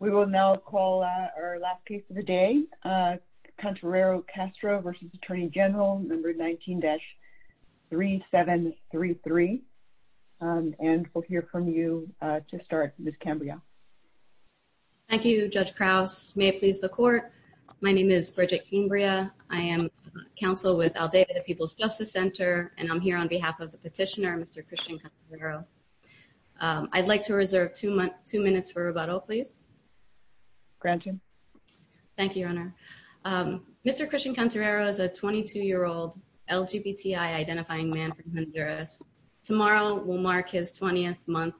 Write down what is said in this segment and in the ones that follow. We will now call our last case of the day. Contrero Castro versus Attorney General, number 19-3733. And we'll hear from you to start, Ms. Cambria. Thank you, Judge Krauss. May it please the court. My name is Bridget Cambria. I am counsel with Aldeba, the People's Justice Center, and I'm here on behalf of the petitioner, Mr. Christian Contrero. I'd like to reserve two minutes for rebuttal, please. Granted. Thank you, Your Honor. Mr. Christian Contrero is a 22-year-old LGBTI identifying man from Honduras. Tomorrow will mark his 20th month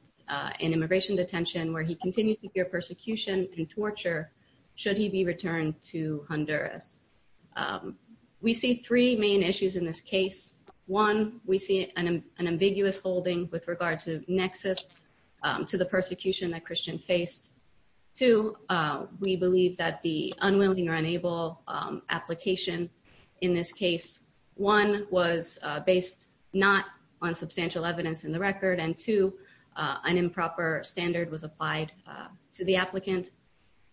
in immigration detention, where he continues to fear persecution and torture should he be returned to Honduras. We see three main issues in this case. One, we see an ambiguous holding with regard to nexus to the persecution that Christian faced. Two, we believe that the unwilling or unable application in this case, one, was based not on substantial evidence in the record, and two, an improper standard was applied to the applicant.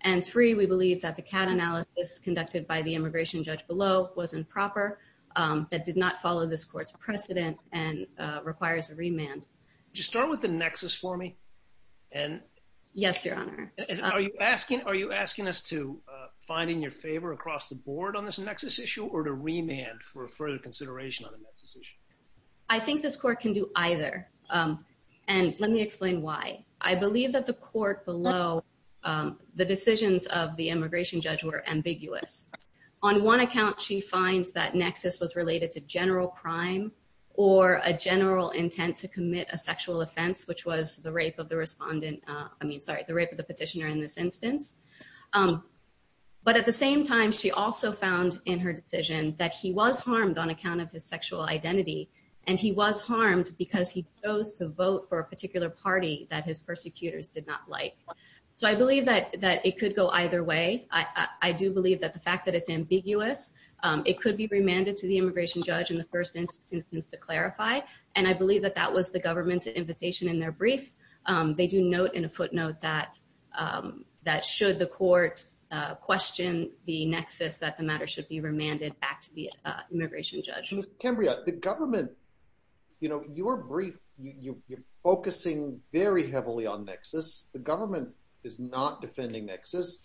And three, we believe that the CAD analysis conducted by the immigration judge below was improper, that did not follow this court's precedent and requires a remand. Just start with the nexus for me. Yes, Your Honor. Are you asking us to find in your favor across the board on this nexus issue, or to remand for further consideration on the nexus issue? I think this court can do either, and let me explain why. I believe that the court below, the decisions of the immigration judge were ambiguous. On one account, she finds that nexus was related to general crime or a general intent to commit a sexual offense, which was the rape of the respondent. I mean, sorry, the rape of the petitioner in this instance. But at the same time, she also found in her decision that he was harmed on account of his sexual identity, and he was harmed because he chose to vote for a particular party that his persecutors did not like. So I believe that it could go either way. I do believe that the fact that it's ambiguous, it could be remanded to the immigration judge in the first instance to clarify. And I believe that that was the government's invitation in their brief. They do note in a footnote that should the court question the nexus, that the matter should be remanded back to the immigration judge. Cambria, the government, you know, your brief, you're focusing very heavily on nexus. The government is not defending nexus.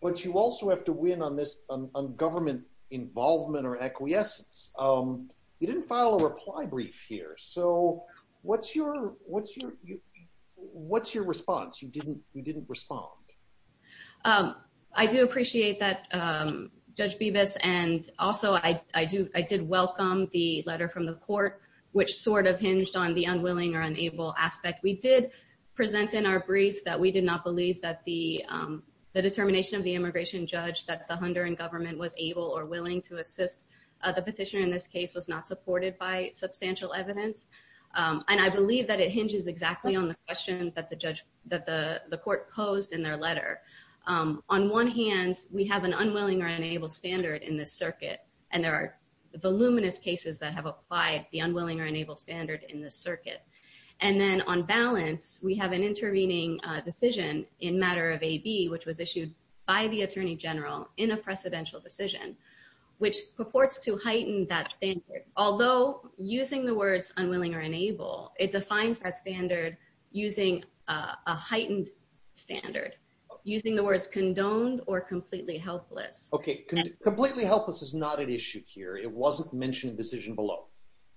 But you also have to win on government involvement or acquiescence. You didn't file a reply brief here. So what's your response? You didn't respond. I do appreciate that, Judge Bibas. And also, I did welcome the letter from the court, which sort of hinged on the unwilling or unable aspect. We did present in our brief that we did not believe that the determination of the immigration judge that the Honduran government was able or willing to assist the petitioner in this case was not supported by substantial evidence. And I believe that it hinges exactly on the question that the court posed in their letter. On one hand, we have an unwilling or unable standard in this circuit. And there are voluminous cases that have applied the unwilling or unable standard in this circuit. And then on balance, we have an intervening decision in matter of AB, which was issued by the Attorney General in a precedential decision, which purports to heighten that standard. Although using the words unwilling or unable, it defines that standard using a heightened standard, using the words condoned or completely helpless. Okay, completely helpless is not an issue here. It wasn't mentioned in the decision below.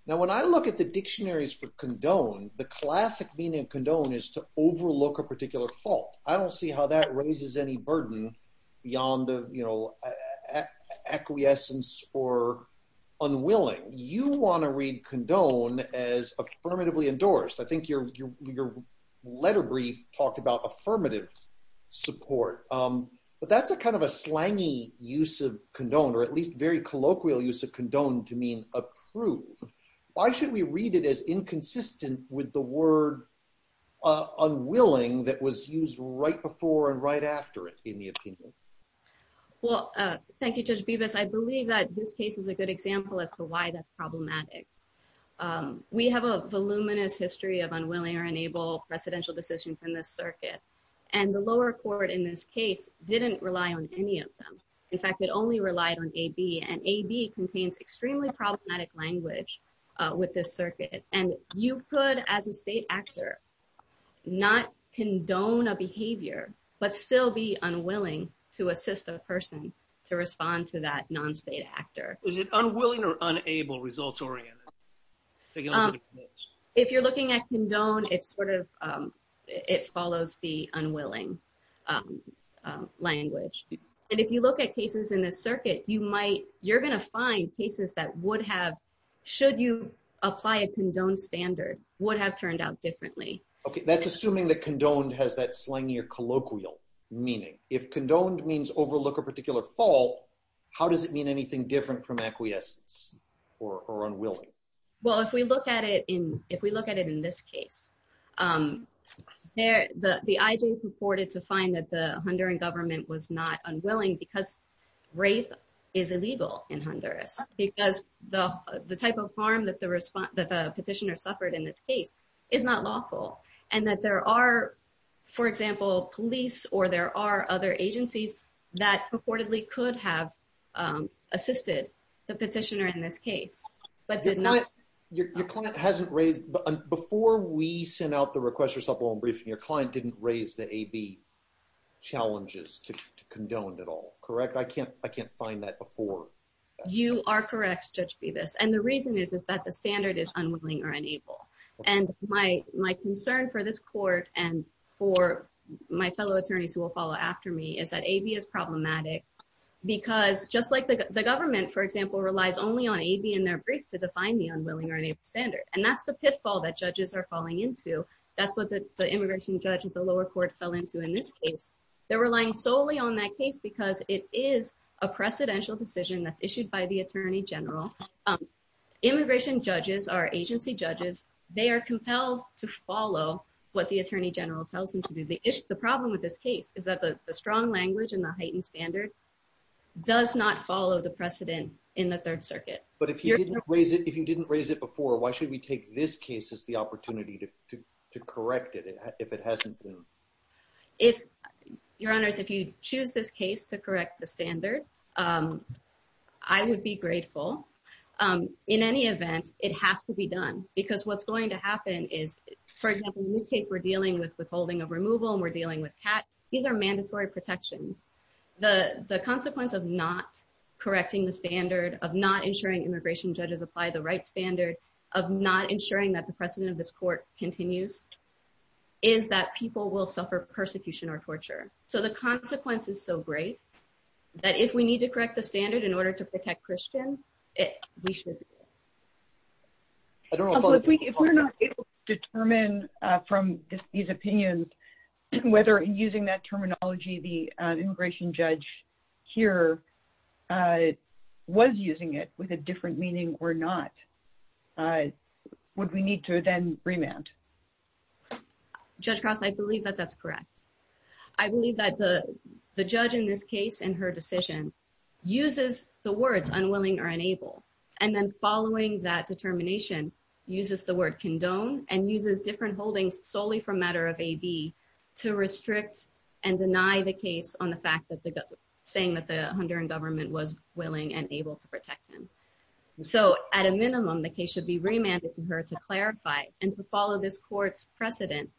Now, when I look at the dictionaries for condone, the classic meaning of condone is to overlook a particular fault. I don't see how that raises any burden beyond the, you know, acquiescence or unwilling. You want to read condone as affirmatively endorsed. I think your letter brief talked about affirmative support. But that's a kind of a slangy use of condone, or at least very colloquial use of condone to mean approve. Why should we read it as inconsistent with the word unwilling that was used right before and right after it in the opinion? Well, thank you, Judge Bevis. I believe that this case is a good example as to why that's problematic. We have a voluminous history of unwilling or unable precedential decisions in this circuit. And the lower court in this case didn't rely on any of them. In fact, it only relied on AB. And AB contains extremely problematic language with this circuit. And you could, as a state actor, not condone a behavior, but still be unwilling to assist a person to respond to that non-state actor. Is it unwilling or unable results oriented? If you're looking at condone, it sort of follows the unwilling language. And if you look at cases in this circuit, you're going to find cases that would have, should you apply a condone standard, would have turned out differently. OK. That's assuming that condoned has that slangier colloquial meaning. If condoned means overlook a particular fault, how does it mean anything different from acquiescence or unwilling? Well, if we look at it in this case, the IJ purported to find that the Honduran government was not unwilling because rape is illegal in Honduras. Because the type of harm that the petitioner suffered in this case is not lawful. And that there are, for example, police or there are other agencies that purportedly could have assisted the petitioner in this case, but did not. Your client hasn't raised, before we sent out the request for subpoena briefing, your client didn't raise the AB challenges to condoned at all, correct? I can't find that before. You are correct, Judge Bevis. And the reason is, is that the standard is unwilling or unable. And my concern for this court and for my fellow attorneys who will follow after me is that AB is problematic because just like the government, for example, relies only on AB in their brief to define the unwilling or unable standard. And that's the pitfall that judges are falling into. That's what the immigration judge at the lower court fell into in this case. They're relying solely on that case because it is a precedential decision that's issued by the Attorney General. Immigration judges are agency judges. They are compelled to follow what the Attorney General tells them to do. The issue, the problem with this case is that the strong language and the heightened standard does not follow the precedent in the Third Circuit. But if you didn't raise it, if you didn't raise it before, why should we take this case as the opportunity to correct it if it hasn't been? If, Your Honors, if you choose this case to correct the standard, I would be grateful. In any event, it has to be done. Because what's going to happen is, for example, in this case, we're dealing with withholding of removal and we're dealing with cat. These are mandatory protections. The consequence of not correcting the standard, of not ensuring immigration judges apply the right standard, of not ensuring that the precedent of this court continues, is that people will suffer persecution or torture. So the consequence is so great that if we need to correct the standard in order to protect Christian, we should. If we're not able to determine from these opinions whether using that terminology, the standard, would we need to then remand? Judge Cross, I believe that that's correct. I believe that the judge in this case and her decision uses the words unwilling or unable. And then following that determination, uses the word condone and uses different holdings solely for a matter of AB to restrict and deny the case on the fact that the saying that the Honduran government was willing and able to protect him. So at a minimum, the case should be remanded to her to clarify and to follow this court's precedent.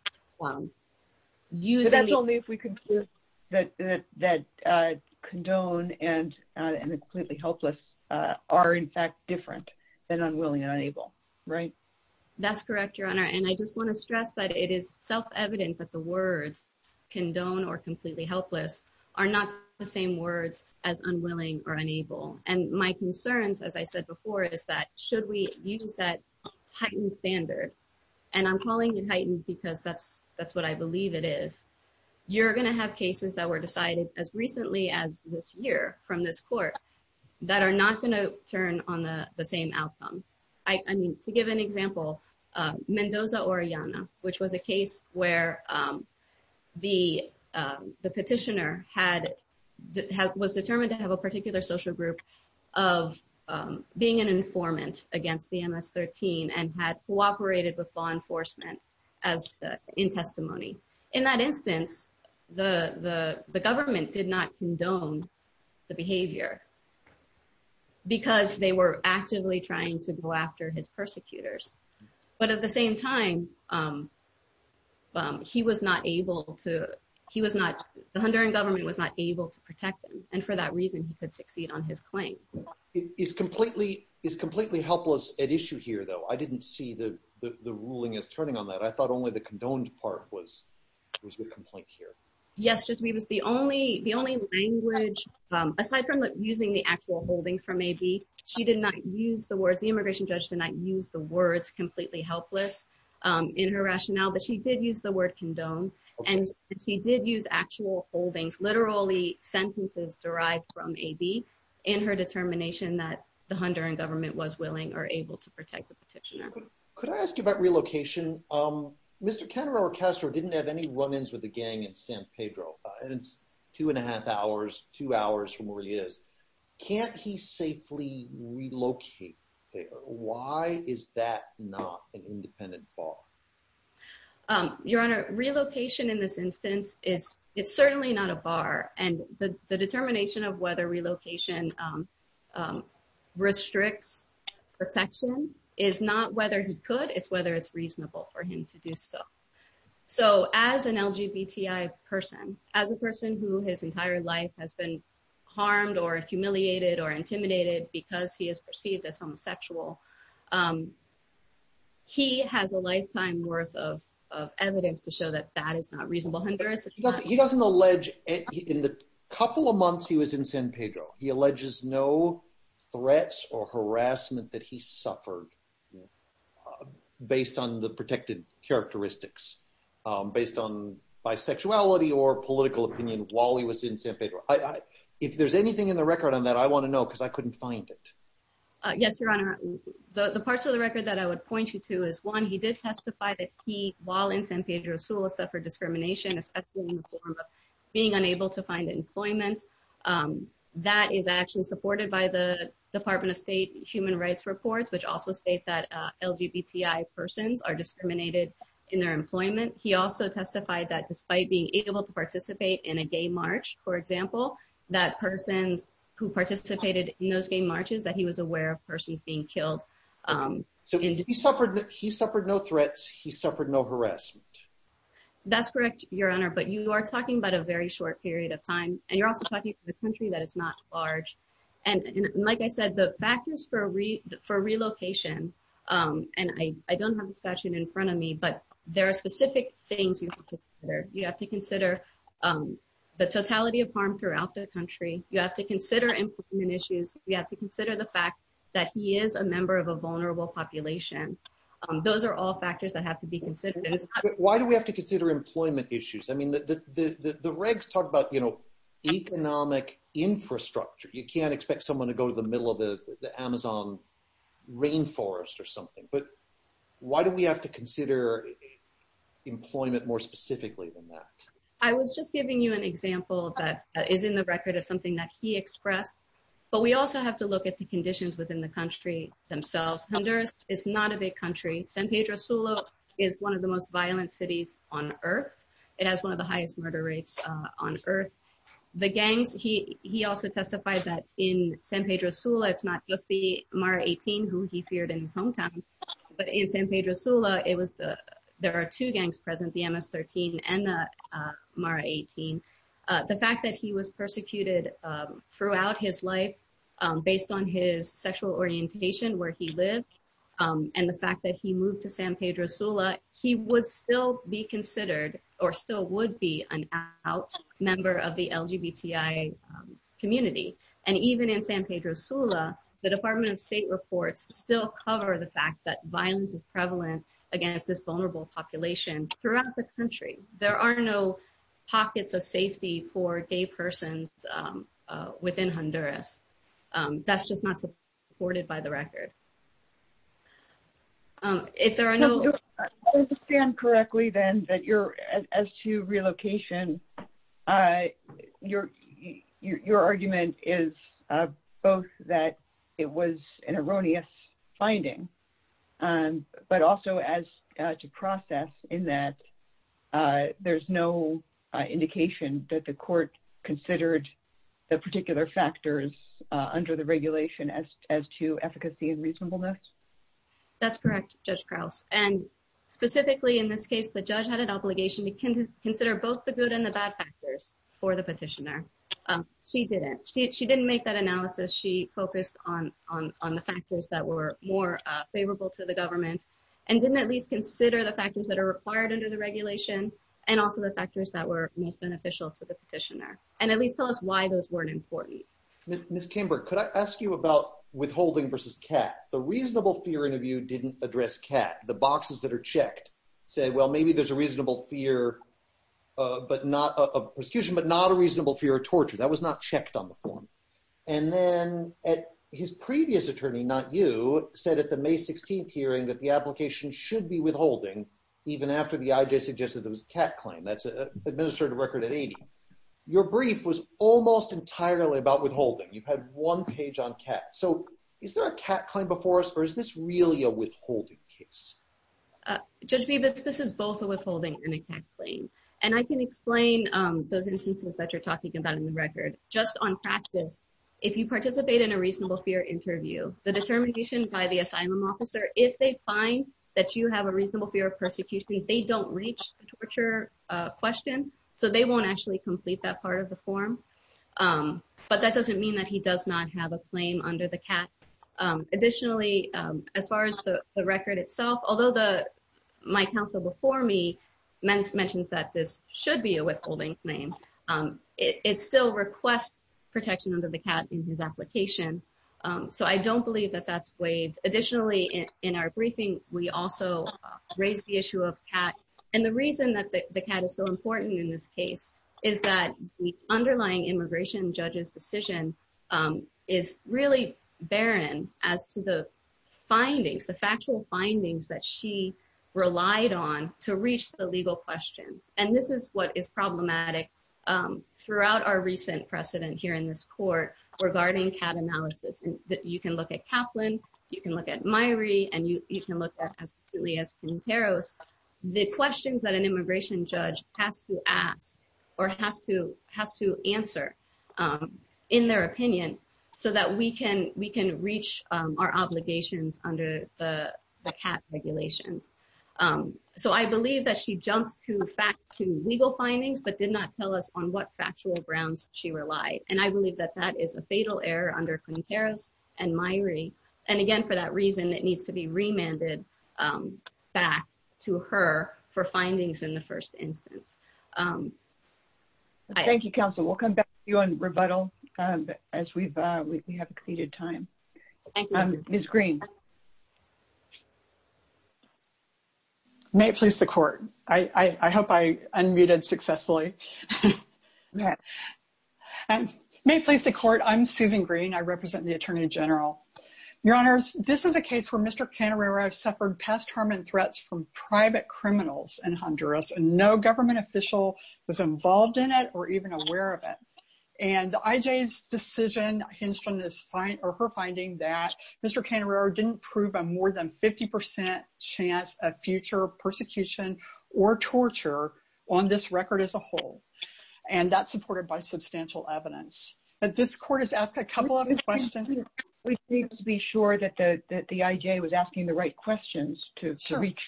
That's only if we conclude that condone and completely helpless are, in fact, different than unwilling and unable, right? That's correct, Your Honor. And I just want to stress that it is self-evident that the words condone or completely helpless are not the same words as unwilling or unable. And my concerns, as I said before, is that should we use that heightened standard? And I'm calling it heightened because that's what I believe it is. You're going to have cases that were decided as recently as this year from this court that are not going to turn on the same outcome. I mean, to give an example, Mendoza-Oreana, which was a case where the petitioner was determined to have a particular social group of being an informant against the MS-13 and had cooperated with law enforcement in testimony. In that instance, the government did not condone the behavior because they were actively trying to go after his persecutors. But at the same time, the Honduran government was not able to protect him. And for that reason, he could succeed on his claim. It is completely helpless at issue here, though. I didn't see the ruling as turning on that. I thought only the condoned part was the complaint here. Yes, Judge Meeves, the only language, aside from using the actual holdings from AB, she did not use the words. The immigration judge did not use the words completely helpless in her rationale, but she did use the word condone. And she did use actual holdings, literally sentences derived from AB, in her determination that the Honduran government was willing or able to protect the petitioner. Could I ask you about relocation? Mr. Canero-Castro didn't have any run-ins with the gang in San Pedro. It's two and a half hours, two hours from where he is. Can't he safely relocate there? Why is that not an independent bar? Your Honor, relocation in this instance is certainly not a bar. And the determination of whether relocation restricts protection is not whether he could, it's whether it's reasonable for him to do so. So as an LGBTI person, as a person who his entire life has been harmed or humiliated or intimidated because he is perceived as homosexual, he has a lifetime worth of evidence to show that that is not reasonable. He doesn't allege, in the couple of months he was in San Pedro, he alleges no threats or harassment that he suffered based on the protected characteristics, based on bisexuality or political opinion while he was in San Pedro. I, if there's anything in the record on that, I want to know because I couldn't find it. Yes, Your Honor, the parts of the record that I would point you to is, one, he did testify that he, while in San Pedro Sula, suffered discrimination, especially in the form of being unable to find employment. That is actually supported by the Department of State Human Rights Reports, which also state that LGBTI persons are discriminated in their employment. He also testified that despite being able to participate in a gay march, for example, that persons who participated in those gay marches, that he was aware of persons being killed. He suffered no threats. He suffered no harassment. That's correct, Your Honor, but you are talking about a very short period of time, and you're also talking to the country that is not large. Like I said, the factors for relocation, and I don't have the statute in front of me, but there are specific things you have to consider. You have to consider the totality of harm throughout the country. You have to consider employment issues. You have to consider the fact that he is a member of a vulnerable population. Those are all factors that have to be considered. Why do we have to consider employment issues? The regs talk about economic infrastructure. You can't expect someone to go to the middle of the Amazon rainforest or something, but why do we have to consider employment more specifically than that? I was just giving you an example that is in the record of something that he expressed, but we also have to look at the conditions within the country themselves. Honduras is not a big country. San Pedro Sula is one of the most violent cities on earth. It has one of the highest murder rates on earth. The gangs, he also testified that in San Pedro Sula, it's not just the Mara 18 who he feared in his hometown, but in San Pedro Sula, there are two gangs present, the MS-13 and the Mara 18. The fact that he was persecuted throughout his life based on his sexual orientation, where he lived, and the fact that he moved to San Pedro Sula, he would still be considered or still would be an out member of the LGBTI community. Even in San Pedro Sula, the Department of State reports still cover the fact that violence is not the country. There are no pockets of safety for gay persons within Honduras. That's just not supported by the record. If there are no- If I understand correctly then, as to relocation, your argument is both that it was an erroneous finding, and but also as to process in that there's no indication that the court considered the particular factors under the regulation as to efficacy and reasonableness? That's correct, Judge Krause. And specifically in this case, the judge had an obligation to consider both the good and the bad factors for the petitioner. She didn't. She didn't make that analysis. She focused on the factors that were more favorable to the government, and didn't at least consider the factors that are required under the regulation, and also the factors that were most beneficial to the petitioner, and at least tell us why those weren't important. Ms. Kimberg, could I ask you about withholding versus CAT? The reasonable fear interview didn't address CAT. The boxes that are checked say, well, maybe there's a reasonable fear but not a- a prosecution, but not a reasonable fear of torture. That was not checked on the form. And then at his previous attorney, not you, said at the May 16th hearing that the application should be withholding even after the IJ suggested there was a CAT claim. That's an administrative record at 80. Your brief was almost entirely about withholding. You've had one page on CAT. So is there a CAT claim before us, or is this really a withholding case? Judge Bibas, this is both a withholding and a CAT claim. And I can explain those instances that you're talking about in the record. Just on practice, if you participate in a reasonable fear interview, the determination by the asylum officer, if they find that you have a reasonable fear of persecution, they don't reach the torture question. So they won't actually complete that part of the form. But that doesn't mean that he does not have a claim under the CAT. Additionally, as far as the record itself, although the- my counsel before me mentions that this should be a withholding claim, it still requests protection under the CAT in his application. So I don't believe that that's waived. Additionally, in our briefing, we also raised the issue of CAT. And the reason that the CAT is so important in this case is that the underlying immigration judge's decision is really barren as to the findings, the factual findings that she relied on to reach the legal questions. And this is what is problematic throughout our recent precedent here in this court regarding CAT analysis. You can look at Kaplan, you can look at Myrie, and you can look at as clearly as Quinteros. The questions that an immigration judge has to ask or has to answer in their opinion so that we can reach our obligations under the CAT regulations. Um, so I believe that she jumped to fact to legal findings but did not tell us on what factual grounds she relied. And I believe that that is a fatal error under Quinteros and Myrie. And again, for that reason, it needs to be remanded back to her for findings in the first instance. Thank you, counsel. We'll come back to you on rebuttal as we have exceeded time. Ms. Green. May it please the court. I hope I unmuted successfully. May it please the court. I'm Susan Green. I represent the attorney general. Your honors, this is a case where Mr. Canarrero suffered past harm and threats from private criminals in Honduras and no government official was involved in it or even aware of it. And the IJ's decision hinged on her finding that Mr. Canarrero didn't prove a more than 50% chance of future persecution or torture on this record as a whole. And that's supported by substantial evidence. But this court has asked a couple of questions. We need to be sure that the IJ was asking the right questions to reach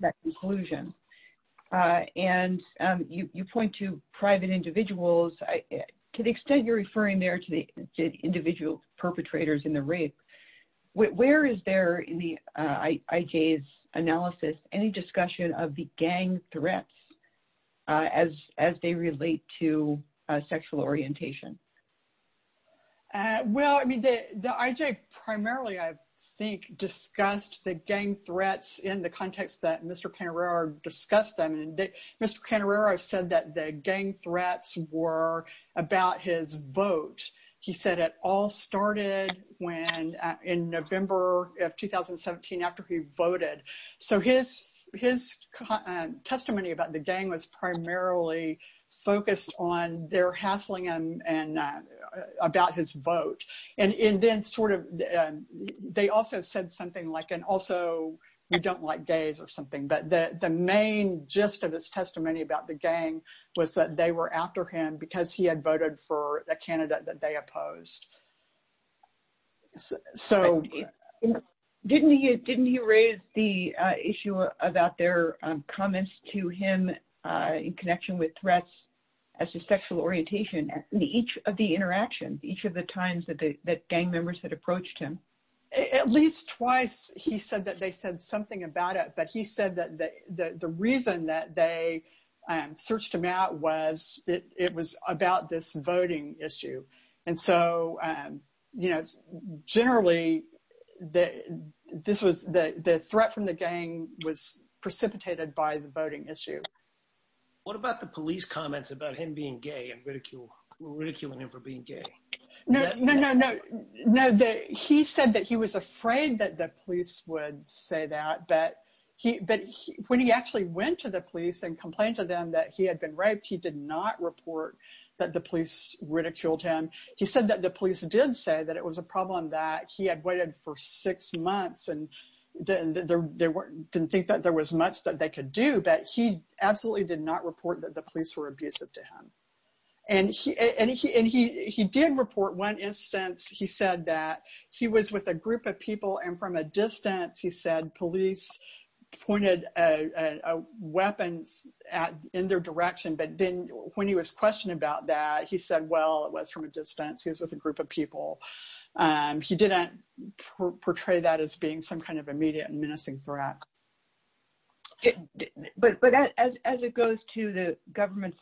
that conclusion. And you point to private individuals. To the extent you're referring there to the individual perpetrators in the rape, where is there in the IJ's analysis, any discussion of the gang threats as they relate to sexual orientation? Well, I mean, the IJ primarily, I think, discussed the gang threats in the context that Mr. Canarrero discussed them. Mr. Canarrero said that the gang threats were about his vote. He said it all started in November of 2017 after he voted. So his testimony about the gang was primarily focused on their hassling him about his vote. And then sort of, they also said something like, also, we don't like gays or something. But the main gist of his testimony about the gang that they opposed. So didn't he raise the issue about their comments to him in connection with threats as to sexual orientation at each of the interactions, each of the times that gang members had approached him? At least twice, he said that they said something about it. But he said that the reason that they searched him out was it was about this voting issue. And so, generally, the threat from the gang was precipitated by the voting issue. What about the police comments about him being gay and ridiculing him for being gay? No, no, no, no. He said that he was afraid that the police would say that. But when he actually went to the police and complained to them that he had been raped, he did not report that the police ridiculed him. He said that the police did say that it was a problem that he had waited for six months and didn't think that there was much that they could do. But he absolutely did not report that the police were abusive to him. And he did report one instance, he said that he was with a group of people. And from a distance, he said, police pointed a weapon in their direction, but then when he was questioned about that, he said, well, it was from a distance. He was with a group of people. He did not portray that as being some kind of immediate and menacing threat. But as it goes to the government's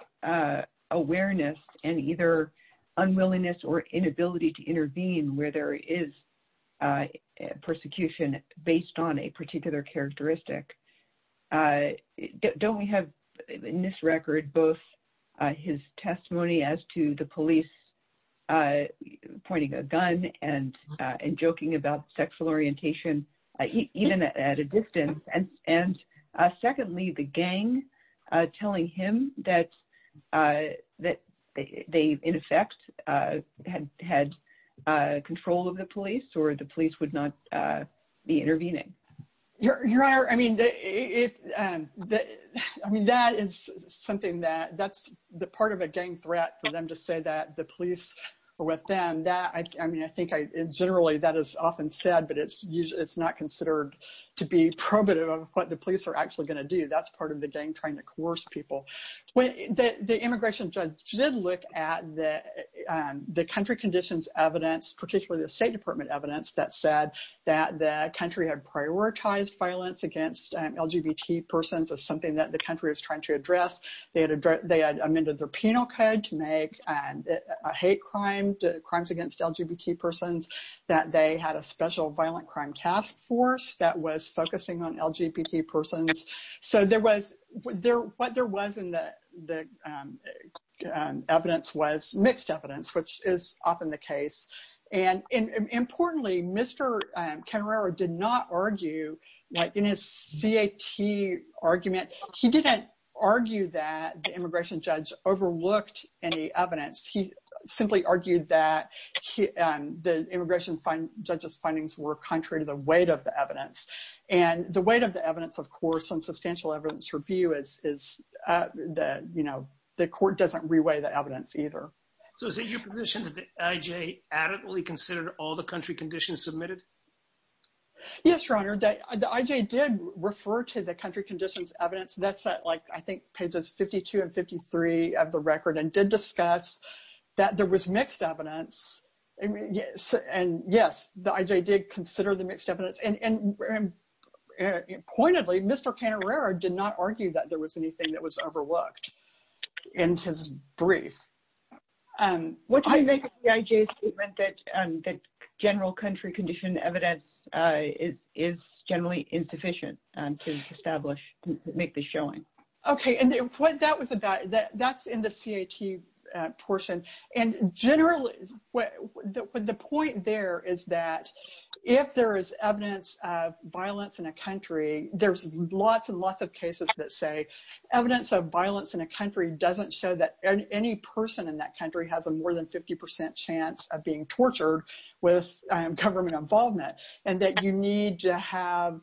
awareness and either unwillingness or inability to intervene where there is persecution based on a particular characteristic, don't we have in this record, both his testimony as to the police pointing a gun and joking about sexual orientation, even at a distance. And secondly, the gang telling him that they in effect had control of the police or the police would not be intervening. Your Honor, I mean, that is something that, that's the part of a gang threat for them to say that the police are with them. That, I mean, I think generally that is often said, but it's not considered to be probative of what the police are actually gonna do. That's part of the gang trying to coerce people. The immigration judge did look at the country conditions evidence, particularly the State Department evidence that said that the country had prioritized violence against LGBT persons as something that the country was trying to address. They had amended their penal code to make hate crimes against LGBT persons, that they had a special violent crime task force that was focusing on LGBT persons. So there was, what there was in the evidence was mixed evidence, which is often the case. And importantly, Mr. Canerero did not argue like in his CAT argument, he didn't argue that the immigration judge overlooked any evidence. He simply argued that the immigration judge's findings were contrary to the weight of the evidence. And the weight of the evidence, of course, on substantial evidence review is that, you know, the court doesn't reweigh the evidence either. So is it your position that the IJ adequately considered all the country conditions submitted? Yes, Your Honor, the IJ did refer to the country conditions evidence. That's like, I think pages 52 and 53 of the record and did discuss that there was mixed evidence. And yes, the IJ did consider the mixed evidence. And pointedly, Mr. Canerero did not argue that there was anything that was overlooked in his brief. What do you make of the IJ's statement that general country condition evidence is generally insufficient to establish, make the showing? Okay, and what that was about, that's in the CAT portion. And generally, the point there is that if there is evidence of violence in a country, there's lots and lots of cases that say evidence of violence in a country doesn't show that any person in that country has a more than 50% chance of being tortured with government involvement. And that you need to have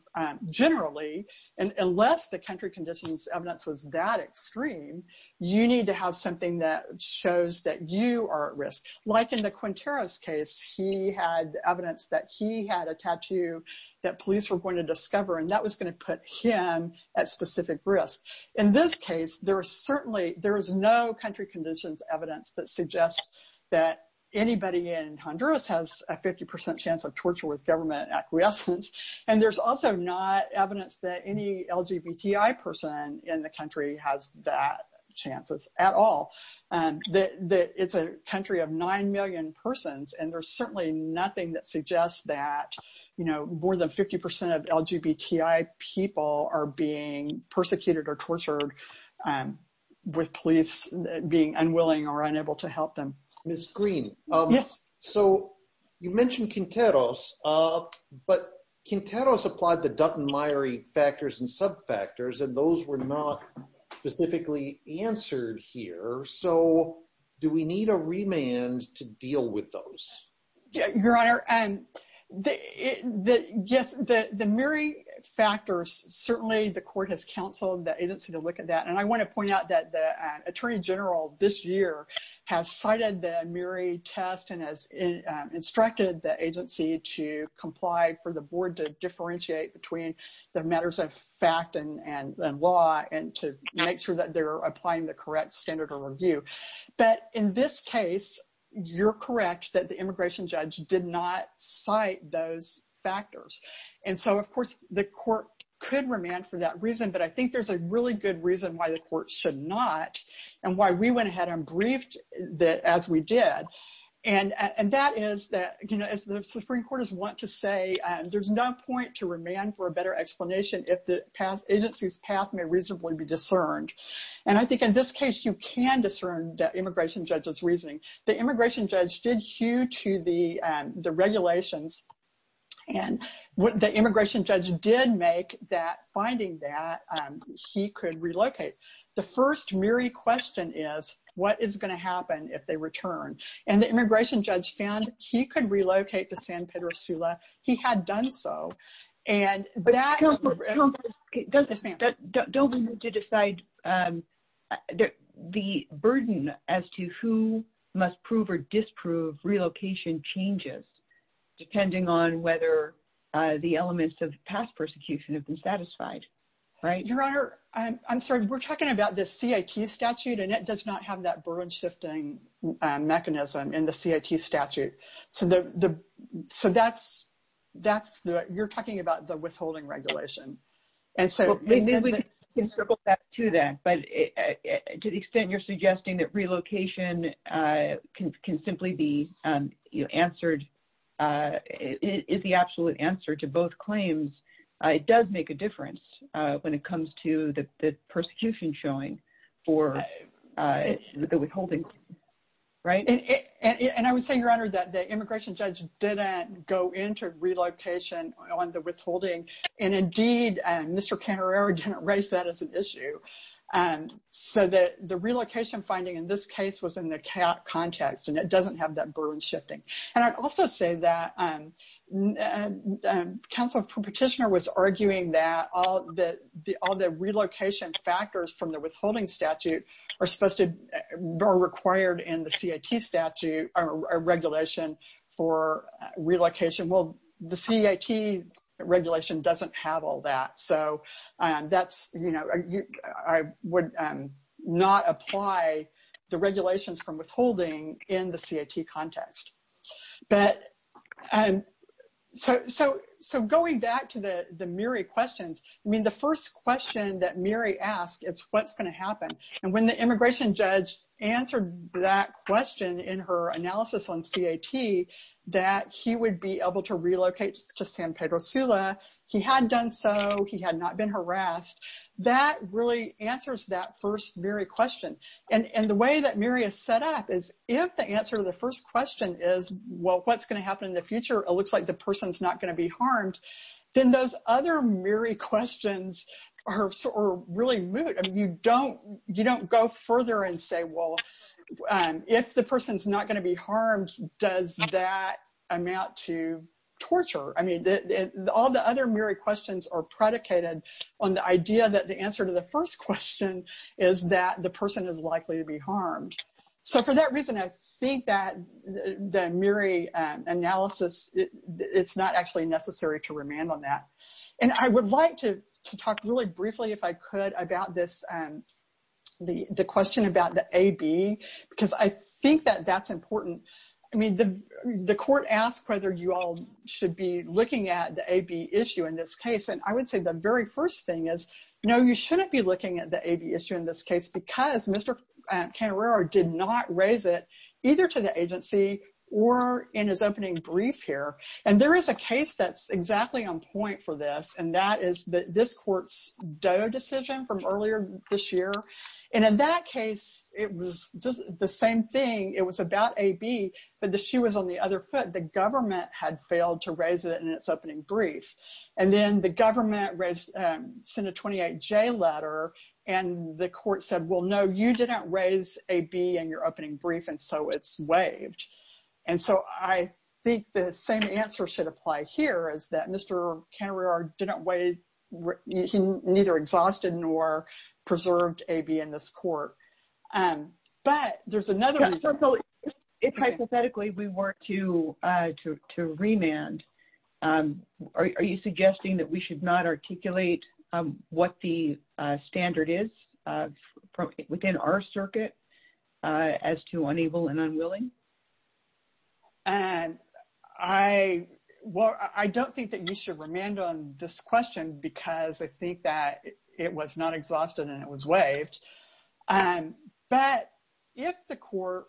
generally, and unless the country conditions evidence was that extreme, you need to have something that shows that you are at risk. Like in the Quintero's case, he had evidence that he had a tattoo that police were going to discover and that was gonna put him at specific risk. In this case, there is certainly, there is no country conditions evidence that suggests that anybody in Honduras has a 50% chance of torture with government acquiescence. And there's also not evidence that any LGBTI person in the country has that chances at all. It's a country of 9 million persons and there's certainly nothing that suggests that more than 50% of LGBTI people are being persecuted or tortured with police being unwilling or unable to help them. Ms. Green. Yes. So you mentioned Quintero's, but Quintero's applied the Dutton-Meyrie factors and sub factors and those were not specifically answered here. So do we need a remand to deal with those? Your Honor, yes, the Meyrie factors certainly the court has counseled the agency to look at that. And I wanna point out that the attorney general this year has cited the Meyrie test and has instructed the agency to comply for the board to differentiate between the matters of fact and law and to make sure that they're applying the correct standard of review. But in this case, you're correct that the immigration judge did not cite those factors. And so of course the court could remand for that reason, but I think there's a really good reason why the court should not and why we went ahead and briefed that as we did. And that is that, as the Supreme Court is want to say, there's no point to remand for a better explanation if the agency's path may reasonably be discerned. And I think in this case, you can discern that immigration judge's reasoning. The immigration judge did hew to the regulations and what the immigration judge did make that finding that he could relocate. The first Meyrie question is what is gonna happen if they return? And the immigration judge found he could relocate to San Pedro Sula. He had done so. And that- But don't we need to decide the burden as to who must prove or disprove relocation changes depending on whether the elements of past persecution have been satisfied, right? Your Honor, I'm sorry. We're talking about the CIT statute and it does not have that burden shifting mechanism in the CIT statute. So you're talking about the withholding regulation. And so- Maybe we can circle back to that, but to the extent you're suggesting that relocation can simply be answered is the absolute answer to both claims. It does make a difference when it comes to the persecution showing for the withholding, right? And I would say, Your Honor, that the immigration judge didn't go into relocation on the withholding. And indeed, Mr. Canteraro didn't raise that as an issue. So the relocation finding in this case was in the CAOT context and it doesn't have that burden shifting. And I'd also say that counsel petitioner was arguing that all the relocation factors from the withholding statute are supposed to be required in the CIT statute or regulation for relocation. Well, the CIT regulation doesn't have all that. So that's, you know, I would not apply the regulations from withholding in the CIT context. But so going back to the Miri questions, I mean, the first question that Miri asked is what's gonna happen. And when the immigration judge answered that question in her analysis on CIT, that he would be able to relocate to San Pedro Sula, he had done so, he had not been harassed. That really answers that first Miri question. And the way that Miri has set up is if the answer to the first question is, well, what's gonna happen in the future? It looks like the person's not gonna be harmed. Then those other Miri questions are really moot. I mean, you don't go further and say, well, if the person's not gonna be harmed, does that amount to torture? I mean, all the other Miri questions are predicated on the idea that the answer to the first question is that the person is likely to be harmed. So for that reason, I think that the Miri analysis, it's not actually necessary to remand on that. And I would like to talk really briefly, if I could, about this, the question about the AB, because I think that that's important. I mean, the court asked whether you all should be looking at the AB issue in this case. And I would say the very first thing is, no, you shouldn't be looking at the AB issue in this case because Mr. Cantarero did not raise it either to the agency or in his opening brief here. And there is a case that's exactly on point for this. And that is this court's DOE decision from earlier this year. And in that case, it was just the same thing. It was about AB, but the shoe was on the other foot. The government had failed to raise it in its opening brief. And then the government sent a 28J letter and the court said, well, no, you did not raise AB in your opening brief. And so it's waived. And so I think the same answer should apply here is that Mr. Cantarero didn't waive, neither exhausted nor preserved AB in this court. But there's another reason. So if hypothetically we were to remand, are you suggesting that we should not articulate what the standard is within our circuit as to unable and unwilling? And I, well, I don't think that you should remand on this question because I think that it was not exhausted and it was waived. But if the court,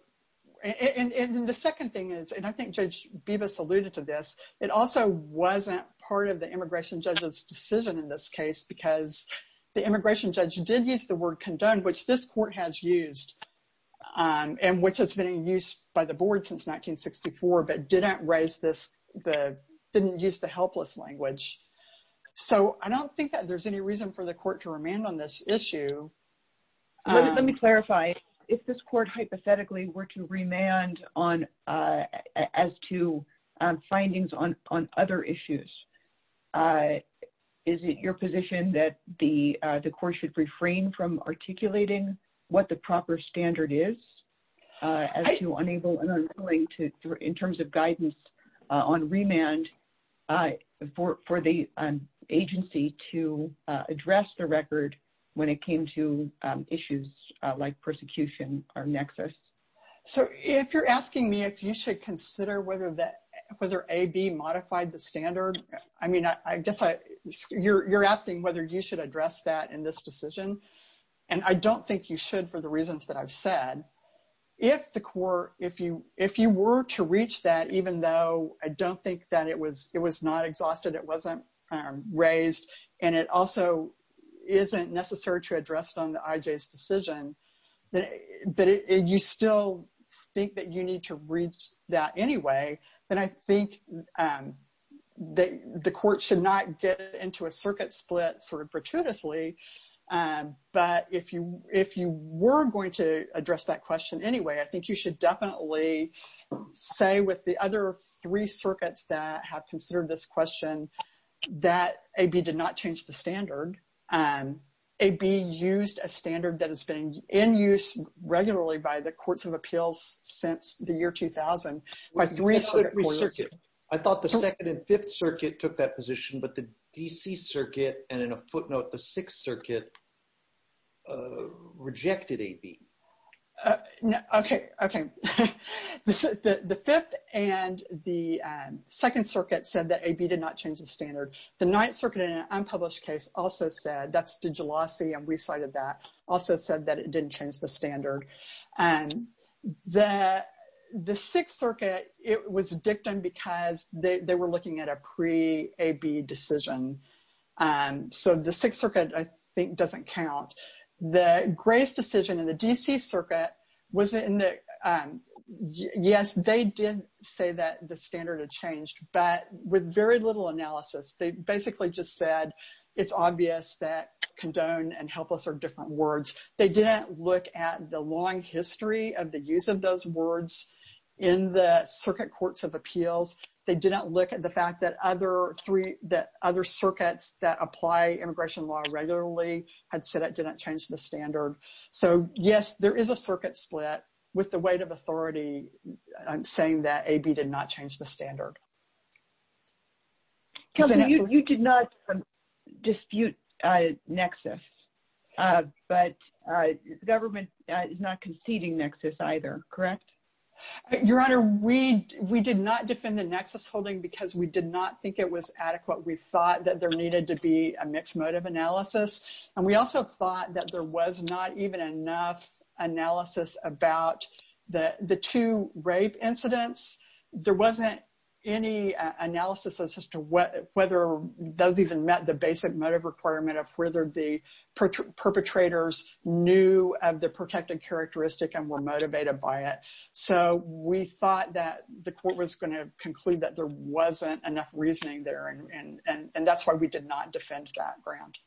and the second thing is, and I think Judge Bibas alluded to this, it also wasn't part of the immigration judge's decision in this case because the immigration judge did use the word condoned, which this court has used and which has been in use by the board since 1964, but didn't raise this, didn't use the helpless language. So I don't think that there's any reason for the court to remand on this issue. Let me clarify, if this court hypothetically were to remand as to findings on other issues, is it your position that the court should refrain from articulating what the proper standard is as to unable and unwilling to, in terms of guidance on remand for the agency to address the record when it came to issues like persecution or nexus? So if you're asking me if you should consider whether AB modified the standard, I mean, I guess you're asking whether you should address that in this decision, and I don't think you should for the reasons that I've said. If the court, if you were to reach that, even though I don't think that it was not exhausted, it wasn't raised, and it also isn't necessary to address it on the IJ's decision, that you still think that you need to reach that anyway, then I think that the court should not get into a circuit split sort of gratuitously. But if you were going to address that question anyway, I think you should definitely say with the other three circuits that have considered this question that AB did not change the standard. AB used a standard that has been in use regularly by the courts of appeals since the year 2000, by three circuit points. I thought the second and fifth circuit took that position, but the DC circuit, and in a footnote, the sixth circuit rejected AB. Okay, okay. The fifth and the second circuit said that AB did not change the standard. The ninth circuit in an unpublished case also said, that's DiGiulosi, and we cited that, also said that it didn't change the standard. The sixth circuit, it was dictum because they were looking at a pre-AB decision. So the sixth circuit, I think, doesn't count. The greatest decision in the DC circuit was in the, yes, they did say that the standard had changed, but with very little analysis, they basically just said, it's obvious that condone and helpless are different words. They didn't look at the long history of the use of those words in the circuit courts of appeals. They did not look at the fact that other circuits that apply immigration law regularly had said it did not change the standard. So yes, there is a circuit split with the weight of authority saying that AB did not change the standard. So you did not dispute nexus, but government is not conceding nexus either, correct? Your Honor, we did not defend the nexus holding because we did not think it was adequate. We thought that there needed to be a mixed motive analysis. And we also thought that there was not even enough analysis about the two rape incidents. There wasn't any analysis as to whether those even met the basic motive requirement of whether the perpetrators knew of the protected characteristic and were motivated by it. So we thought that the court was gonna conclude that there wasn't enough reasoning there. And that's why we did not defend that ground.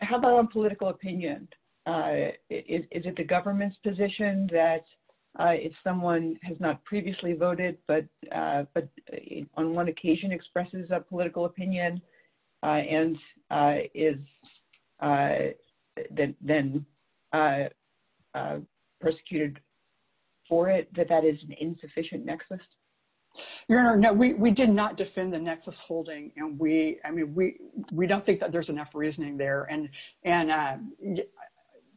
How about on political opinion? Is it the government's position that if someone has not previously voted, but on one occasion expresses a political opinion and is then persecuted for it, that that is an insufficient nexus? Your Honor, no, we did not defend the nexus holding. And I mean, we don't think that there's enough reasoning there. And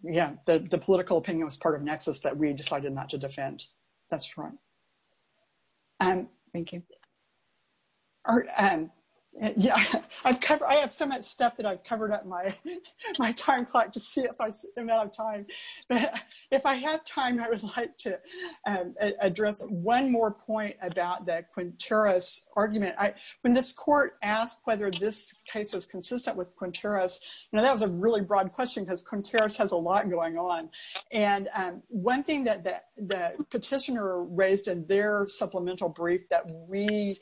yeah, the political opinion was part of nexus that we decided not to defend. That's right. Thank you. I have so much stuff that I've covered up my time clock to see if I'm out of time. If I have time, I would like to address one more point about the Quinteros argument. When this court asked whether this case was consistent with Quinteros, you know, that was a really broad question because Quinteros has a lot going on. And one thing that the petitioner raised in their supplemental brief that we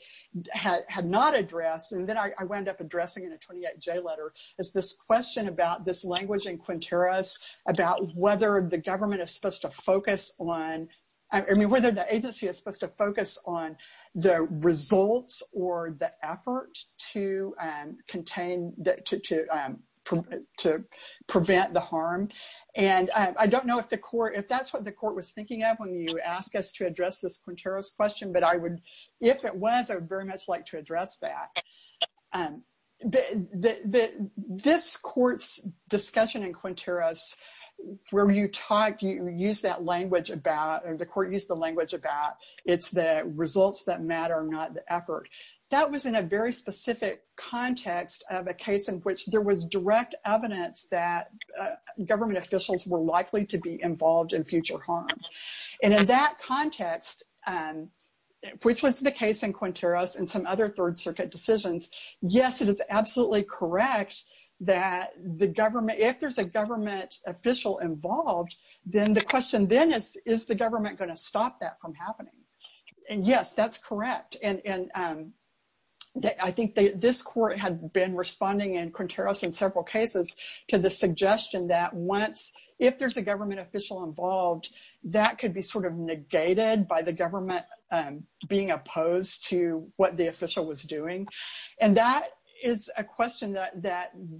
had not addressed, and then I wound up addressing in a 28-J letter, is this question about this language in Quinteros about whether the government is supposed to focus on, I mean, whether the agency is supposed to focus on the results or the effort to contain, to prevent the harm. And I don't know if the court, if that's what the court was thinking of when you asked us to address this Quinteros question, but I would, if it was, I would very much like to address that. This court's discussion in Quinteros, where you talked, you used that language about, or the court used the language about, it's the results that matter, not the effort. That was in a very specific context of a case in which there was direct evidence that government officials were likely to be involved in future harm. And in that context, which was the case in Quinteros and some other Third Circuit decisions, yes, it is absolutely correct that the government, if there's a government official involved, then the question then is, is the government gonna stop that from happening? And yes, that's correct. And I think this court had been responding in Quinteros in several cases to the suggestion that once, if there's a government official involved, that could be sort of negated by the government being opposed to what the official was doing. And that is a question that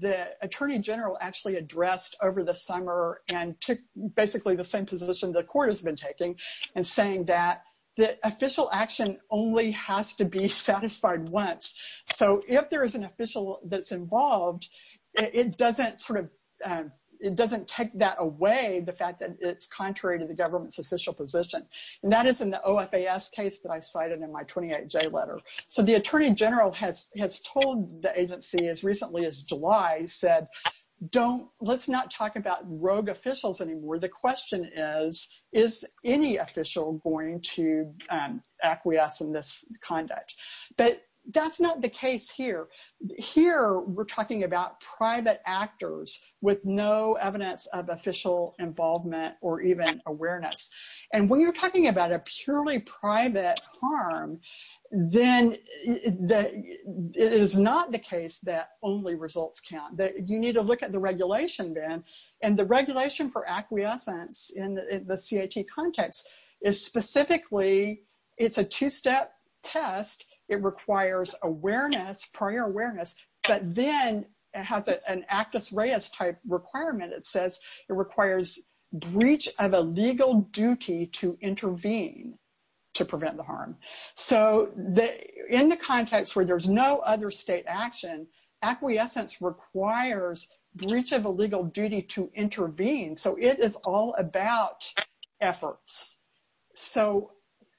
the attorney general actually addressed over the summer and took basically the same position the court has been taking and saying that the official action only has to be satisfied once. So if there is an official that's involved, it doesn't take that away, the fact that it's contrary to the government's official position. And that is in the OFAS case that I cited in my 28J letter. So the attorney general has told the agency as recently as July said, let's not talk about rogue officials anymore. The question is, is any official going to acquiesce in this conduct? But that's not the case here. Here, we're talking about private actors with no evidence of official involvement or even awareness. And when you're talking about a purely private harm, then it is not the case that only results count, that you need to look at the regulation then. And the regulation for acquiescence in the CIT context is specifically, it's a two-step test. It requires prior awareness, but then it has an actus reus type requirement. It says it requires breach of a legal duty to intervene to prevent the harm. So in the context where there's no other state action, acquiescence requires breach of a legal duty to intervene. So it is all about efforts. So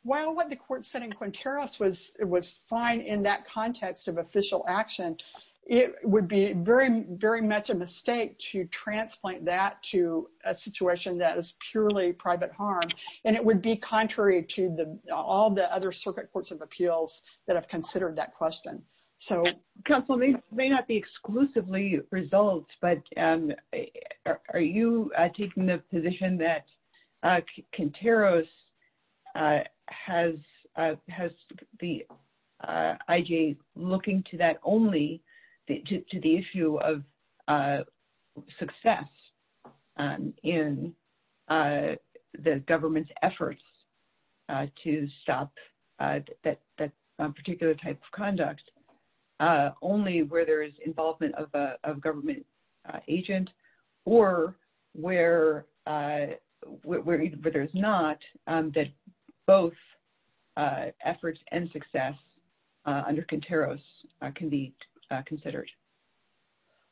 while what the court said in Quinteros was fine in that context of official action, it would be very, very much a mistake to transplant that to a situation that is purely private harm. And it would be contrary to all the other circuit courts of appeals that have considered that question. So- Counsel may not be exclusively results, but are you taking the position that Quinteros has the IJ looking to that only, to the issue of success in the government's efforts to stop that particular type of conduct, only where there is involvement of a government agent, or where there's not, that both efforts and success under Quinteros can be considered?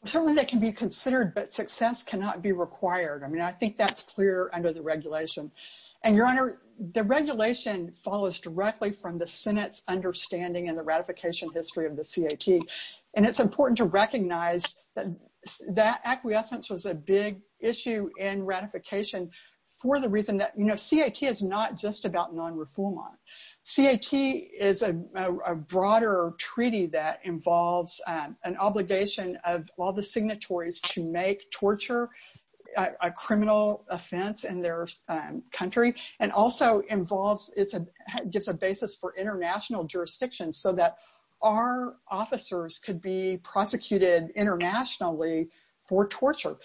Well, certainly that can be considered, but success cannot be required. I mean, I think that's clear under the regulation. And Your Honor, the regulation follows directly from the Senate's understanding and the ratification history of the CAT. And it's important to recognize that acquiescence was a big issue in ratification for the reason that, you know, CAT is not just about non-refoulement. CAT is a broader treaty that involves an obligation of all the signatories to make torture a criminal offense in their country, and also gives a basis for international jurisdiction so that our officers could be prosecuted internationally for torture.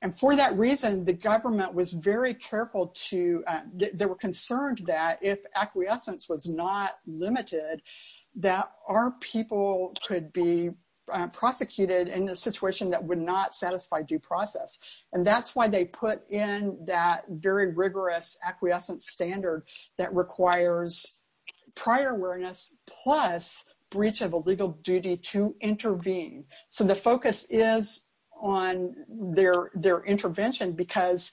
And for that reason, the government was very careful to, they were concerned that if acquiescence was not limited, that our people could be prosecuted in a situation that would not satisfy due process. And that's why they put in that very rigorous acquiescence standard that requires prior awareness, plus breach of a legal duty to intervene. So the focus is on their intervention because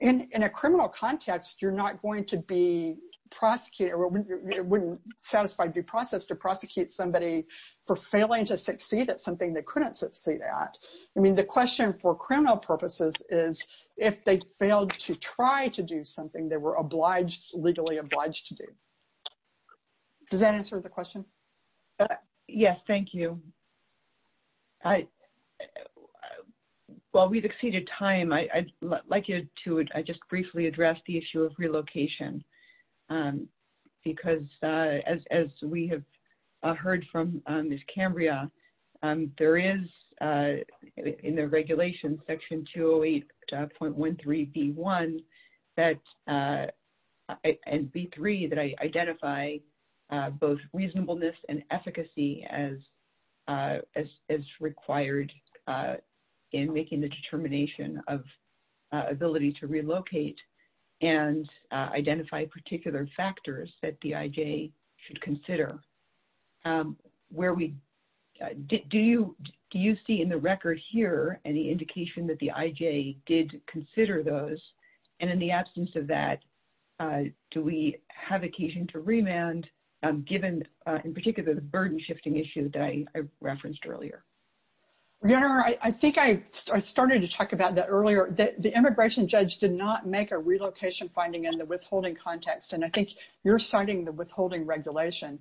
in a criminal context, you're not going to be prosecuted, or it wouldn't satisfy due process to prosecute somebody for failing to succeed at something they couldn't succeed at. I mean, the question for criminal purposes is if they failed to try to do something they were obliged, legally obliged to do. Does that answer the question? Yes, thank you. While we've exceeded time, I'd like you to, I just briefly address the issue of relocation because as we have heard from Ms. Cambria, there is in the regulation section 208.13B1 and B3 that identify both reasonableness and efficacy as required in making the determination of ability to relocate and identify particular factors that the IJ should consider. Where we, do you see in the record here any indication that the IJ did consider those and in the absence of that, do we have occasion to remand given in particular the burden shifting issue that I referenced earlier? Your Honor, I think I started to talk about that earlier. The immigration judge did not make a relocation finding in the withholding context and I think you're citing the withholding regulation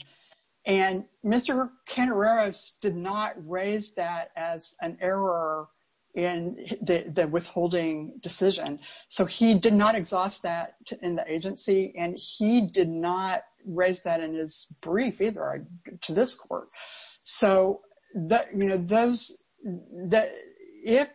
and Mr. Cantareras did not raise that as an error in the withholding decision. So he did not exhaust that in the agency and he did not raise that in his brief either to this court. So if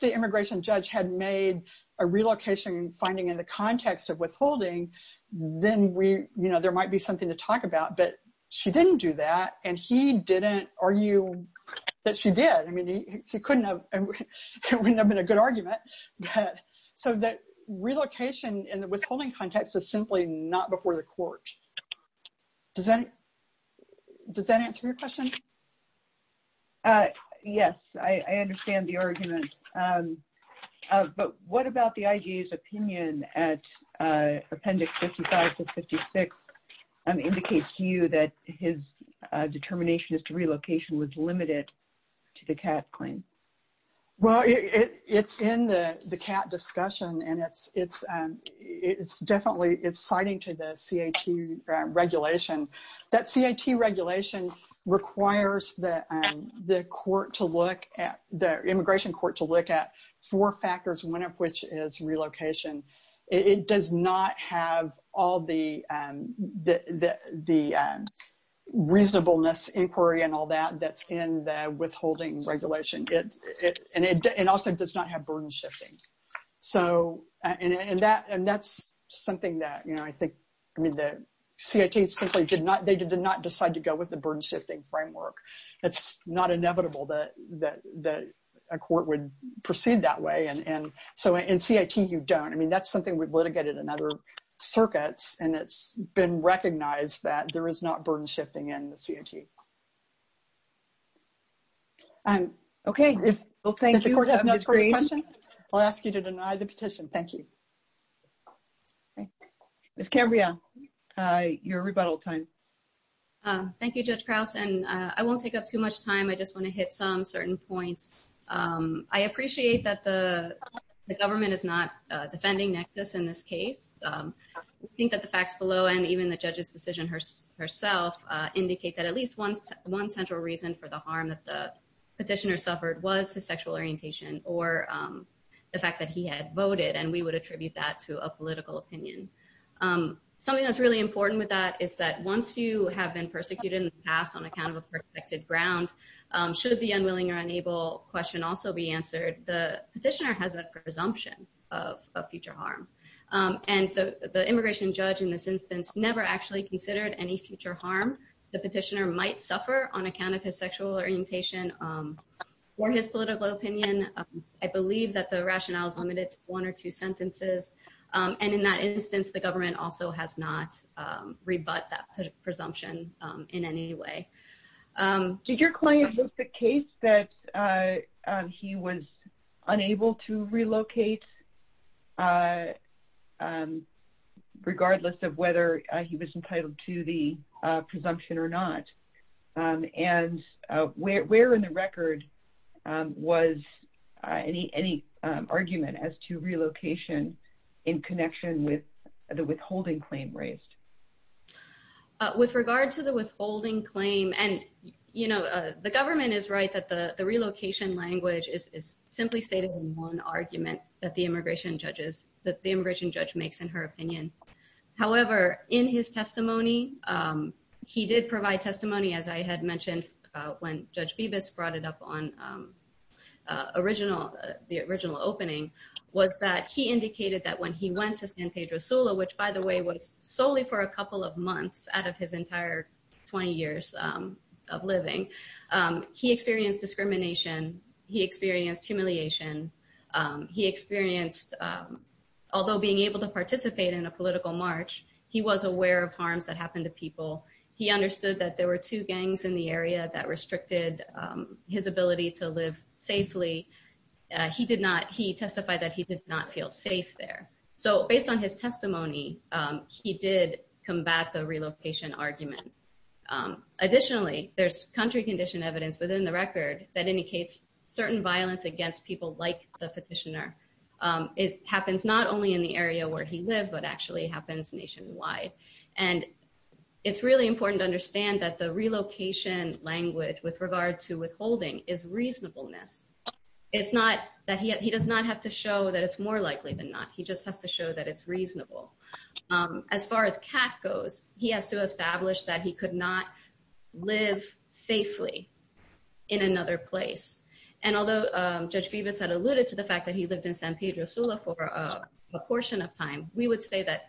the immigration judge had made a relocation finding in the context of withholding, then there might be something to talk about but she didn't do that and he didn't argue that she did. I mean, it wouldn't have been a good argument. But so that relocation in the withholding context is simply not before the court. Does that answer your question? Yes, I understand the argument but what about the IJ's opinion at appendix 55 to 56 indicates to you that his determination as to relocation was limited to the Kat claim? Well, it's in the Kat discussion and it's definitely it's citing to the CAT regulation. That CAT regulation requires the immigration court to look at four factors, one of which is relocation. It does not have all the reasonableness inquiry and all that that's in the withholding regulation. And it also does not have burden shifting. So and that's something that I think, I mean, the CAT simply did not, they did not decide to go with the burden shifting framework. It's not inevitable that a court would proceed that way. And so in CAT, you don't. I mean, that's something we've litigated in other circuits and it's been recognized that there is not burden shifting in the CAT. Okay, if the court has no further questions, I'll ask you to deny the petition. Thank you. Ms. Cabrera, your rebuttal time. Thank you, Judge Krause. And I won't take up too much time. I just want to hit some certain points. I appreciate that the government is not defending Nexus in this case. and even the judge's decision herself indicate that at least the court one central reason for the harm that the petitioner suffered was his sexual orientation or the fact that he had voted. And we would attribute that to a political opinion. Something that's really important with that is that once you have been persecuted in the past on account of a protected ground, should the unwilling or unable question also be answered, the petitioner has a presumption of future harm. And the immigration judge in this instance never actually considered any future harm. The petitioner might suffer on account of his sexual orientation or his political opinion. I believe that the rationale is limited to one or two sentences. And in that instance, the government also has not rebut that presumption in any way. Did your client list the case that he was unable to relocate regardless of whether he was entitled to the presumption or not? And where in the record was any argument as to relocation in connection with the withholding claim raised? With regard to the withholding claim, and the government is right that the relocation language is simply stated in one argument that the immigration judge makes in her opinion. However, in his testimony, he did provide testimony, as I had mentioned, when Judge Bibas brought it up on the original opening, was that he indicated that when he went to San Pedro Sula, which by the way, was solely for a couple of months out of his entire 20 years of living, he experienced discrimination. He experienced humiliation. He experienced, although being able to participate in a political march, he was aware of harms that happened to people. He understood that there were two gangs in the area that restricted his ability to live safely. He testified that he did not feel safe there. So based on his testimony, he did combat the relocation argument. Additionally, there's country condition evidence within the record that indicates certain violence against people like the petitioner happens not only in the area where he lived, but actually happens nationwide. And it's really important to understand that the relocation language with regard to withholding is reasonableness. It's not that he does not have to show that it's more likely than not. He just has to show that it's reasonable. As far as CAT goes, he has to establish that he could not live safely in another place. And although Judge Bibas had alluded to the fact that he lived in San Pedro Sula for a portion of time, we would say that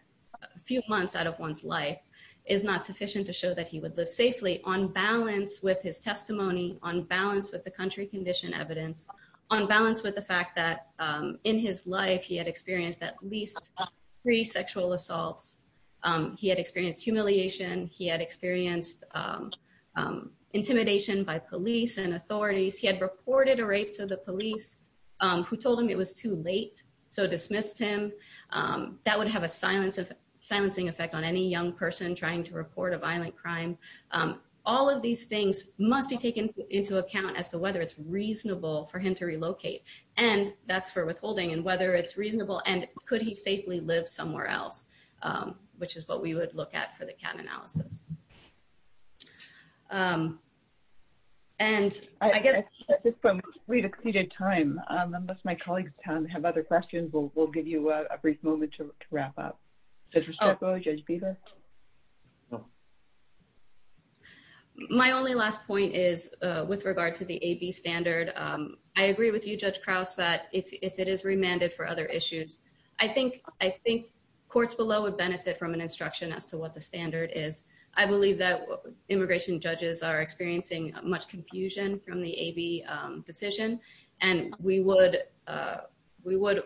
a few months out of one's life is not sufficient to show that he would live safely on balance with his testimony, on balance with the country condition evidence, on balance with the fact that in his life, he had experienced at least three sexual assaults. He had experienced humiliation. He had experienced intimidation by police and authorities. He had reported a rape to the police who told him it was too late. So dismissed him. That would have a silencing effect on any young person trying to report a violent crime. All of these things must be taken into account as to whether it's reasonable for him to relocate. And that's for withholding and whether it's reasonable and could he safely live somewhere else, which is what we would look at for the CAT analysis. And I guess- I think we've exceeded time. Unless my colleagues have other questions, we'll give you a brief moment to wrap up. My only last point is with regard to the AB standard. I agree with you, Judge Krause, that if it is remanded for other issues, I think courts below would benefit from an instruction as to what the standard is. I believe that immigration judges are experiencing much confusion from the AB decision. And we would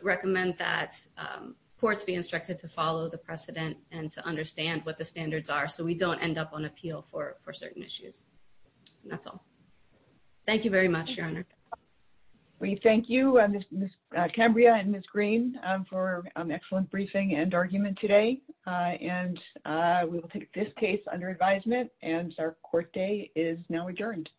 recommend that courts be instructed to follow the precedent and to understand what the standards are so we don't end up on appeal for certain issues. That's all. Thank you very much, Your Honor. We thank you, Ms. Cambria and Ms. Green for an excellent briefing and argument today. And we will take this case under advisement and our court day is now adjourned.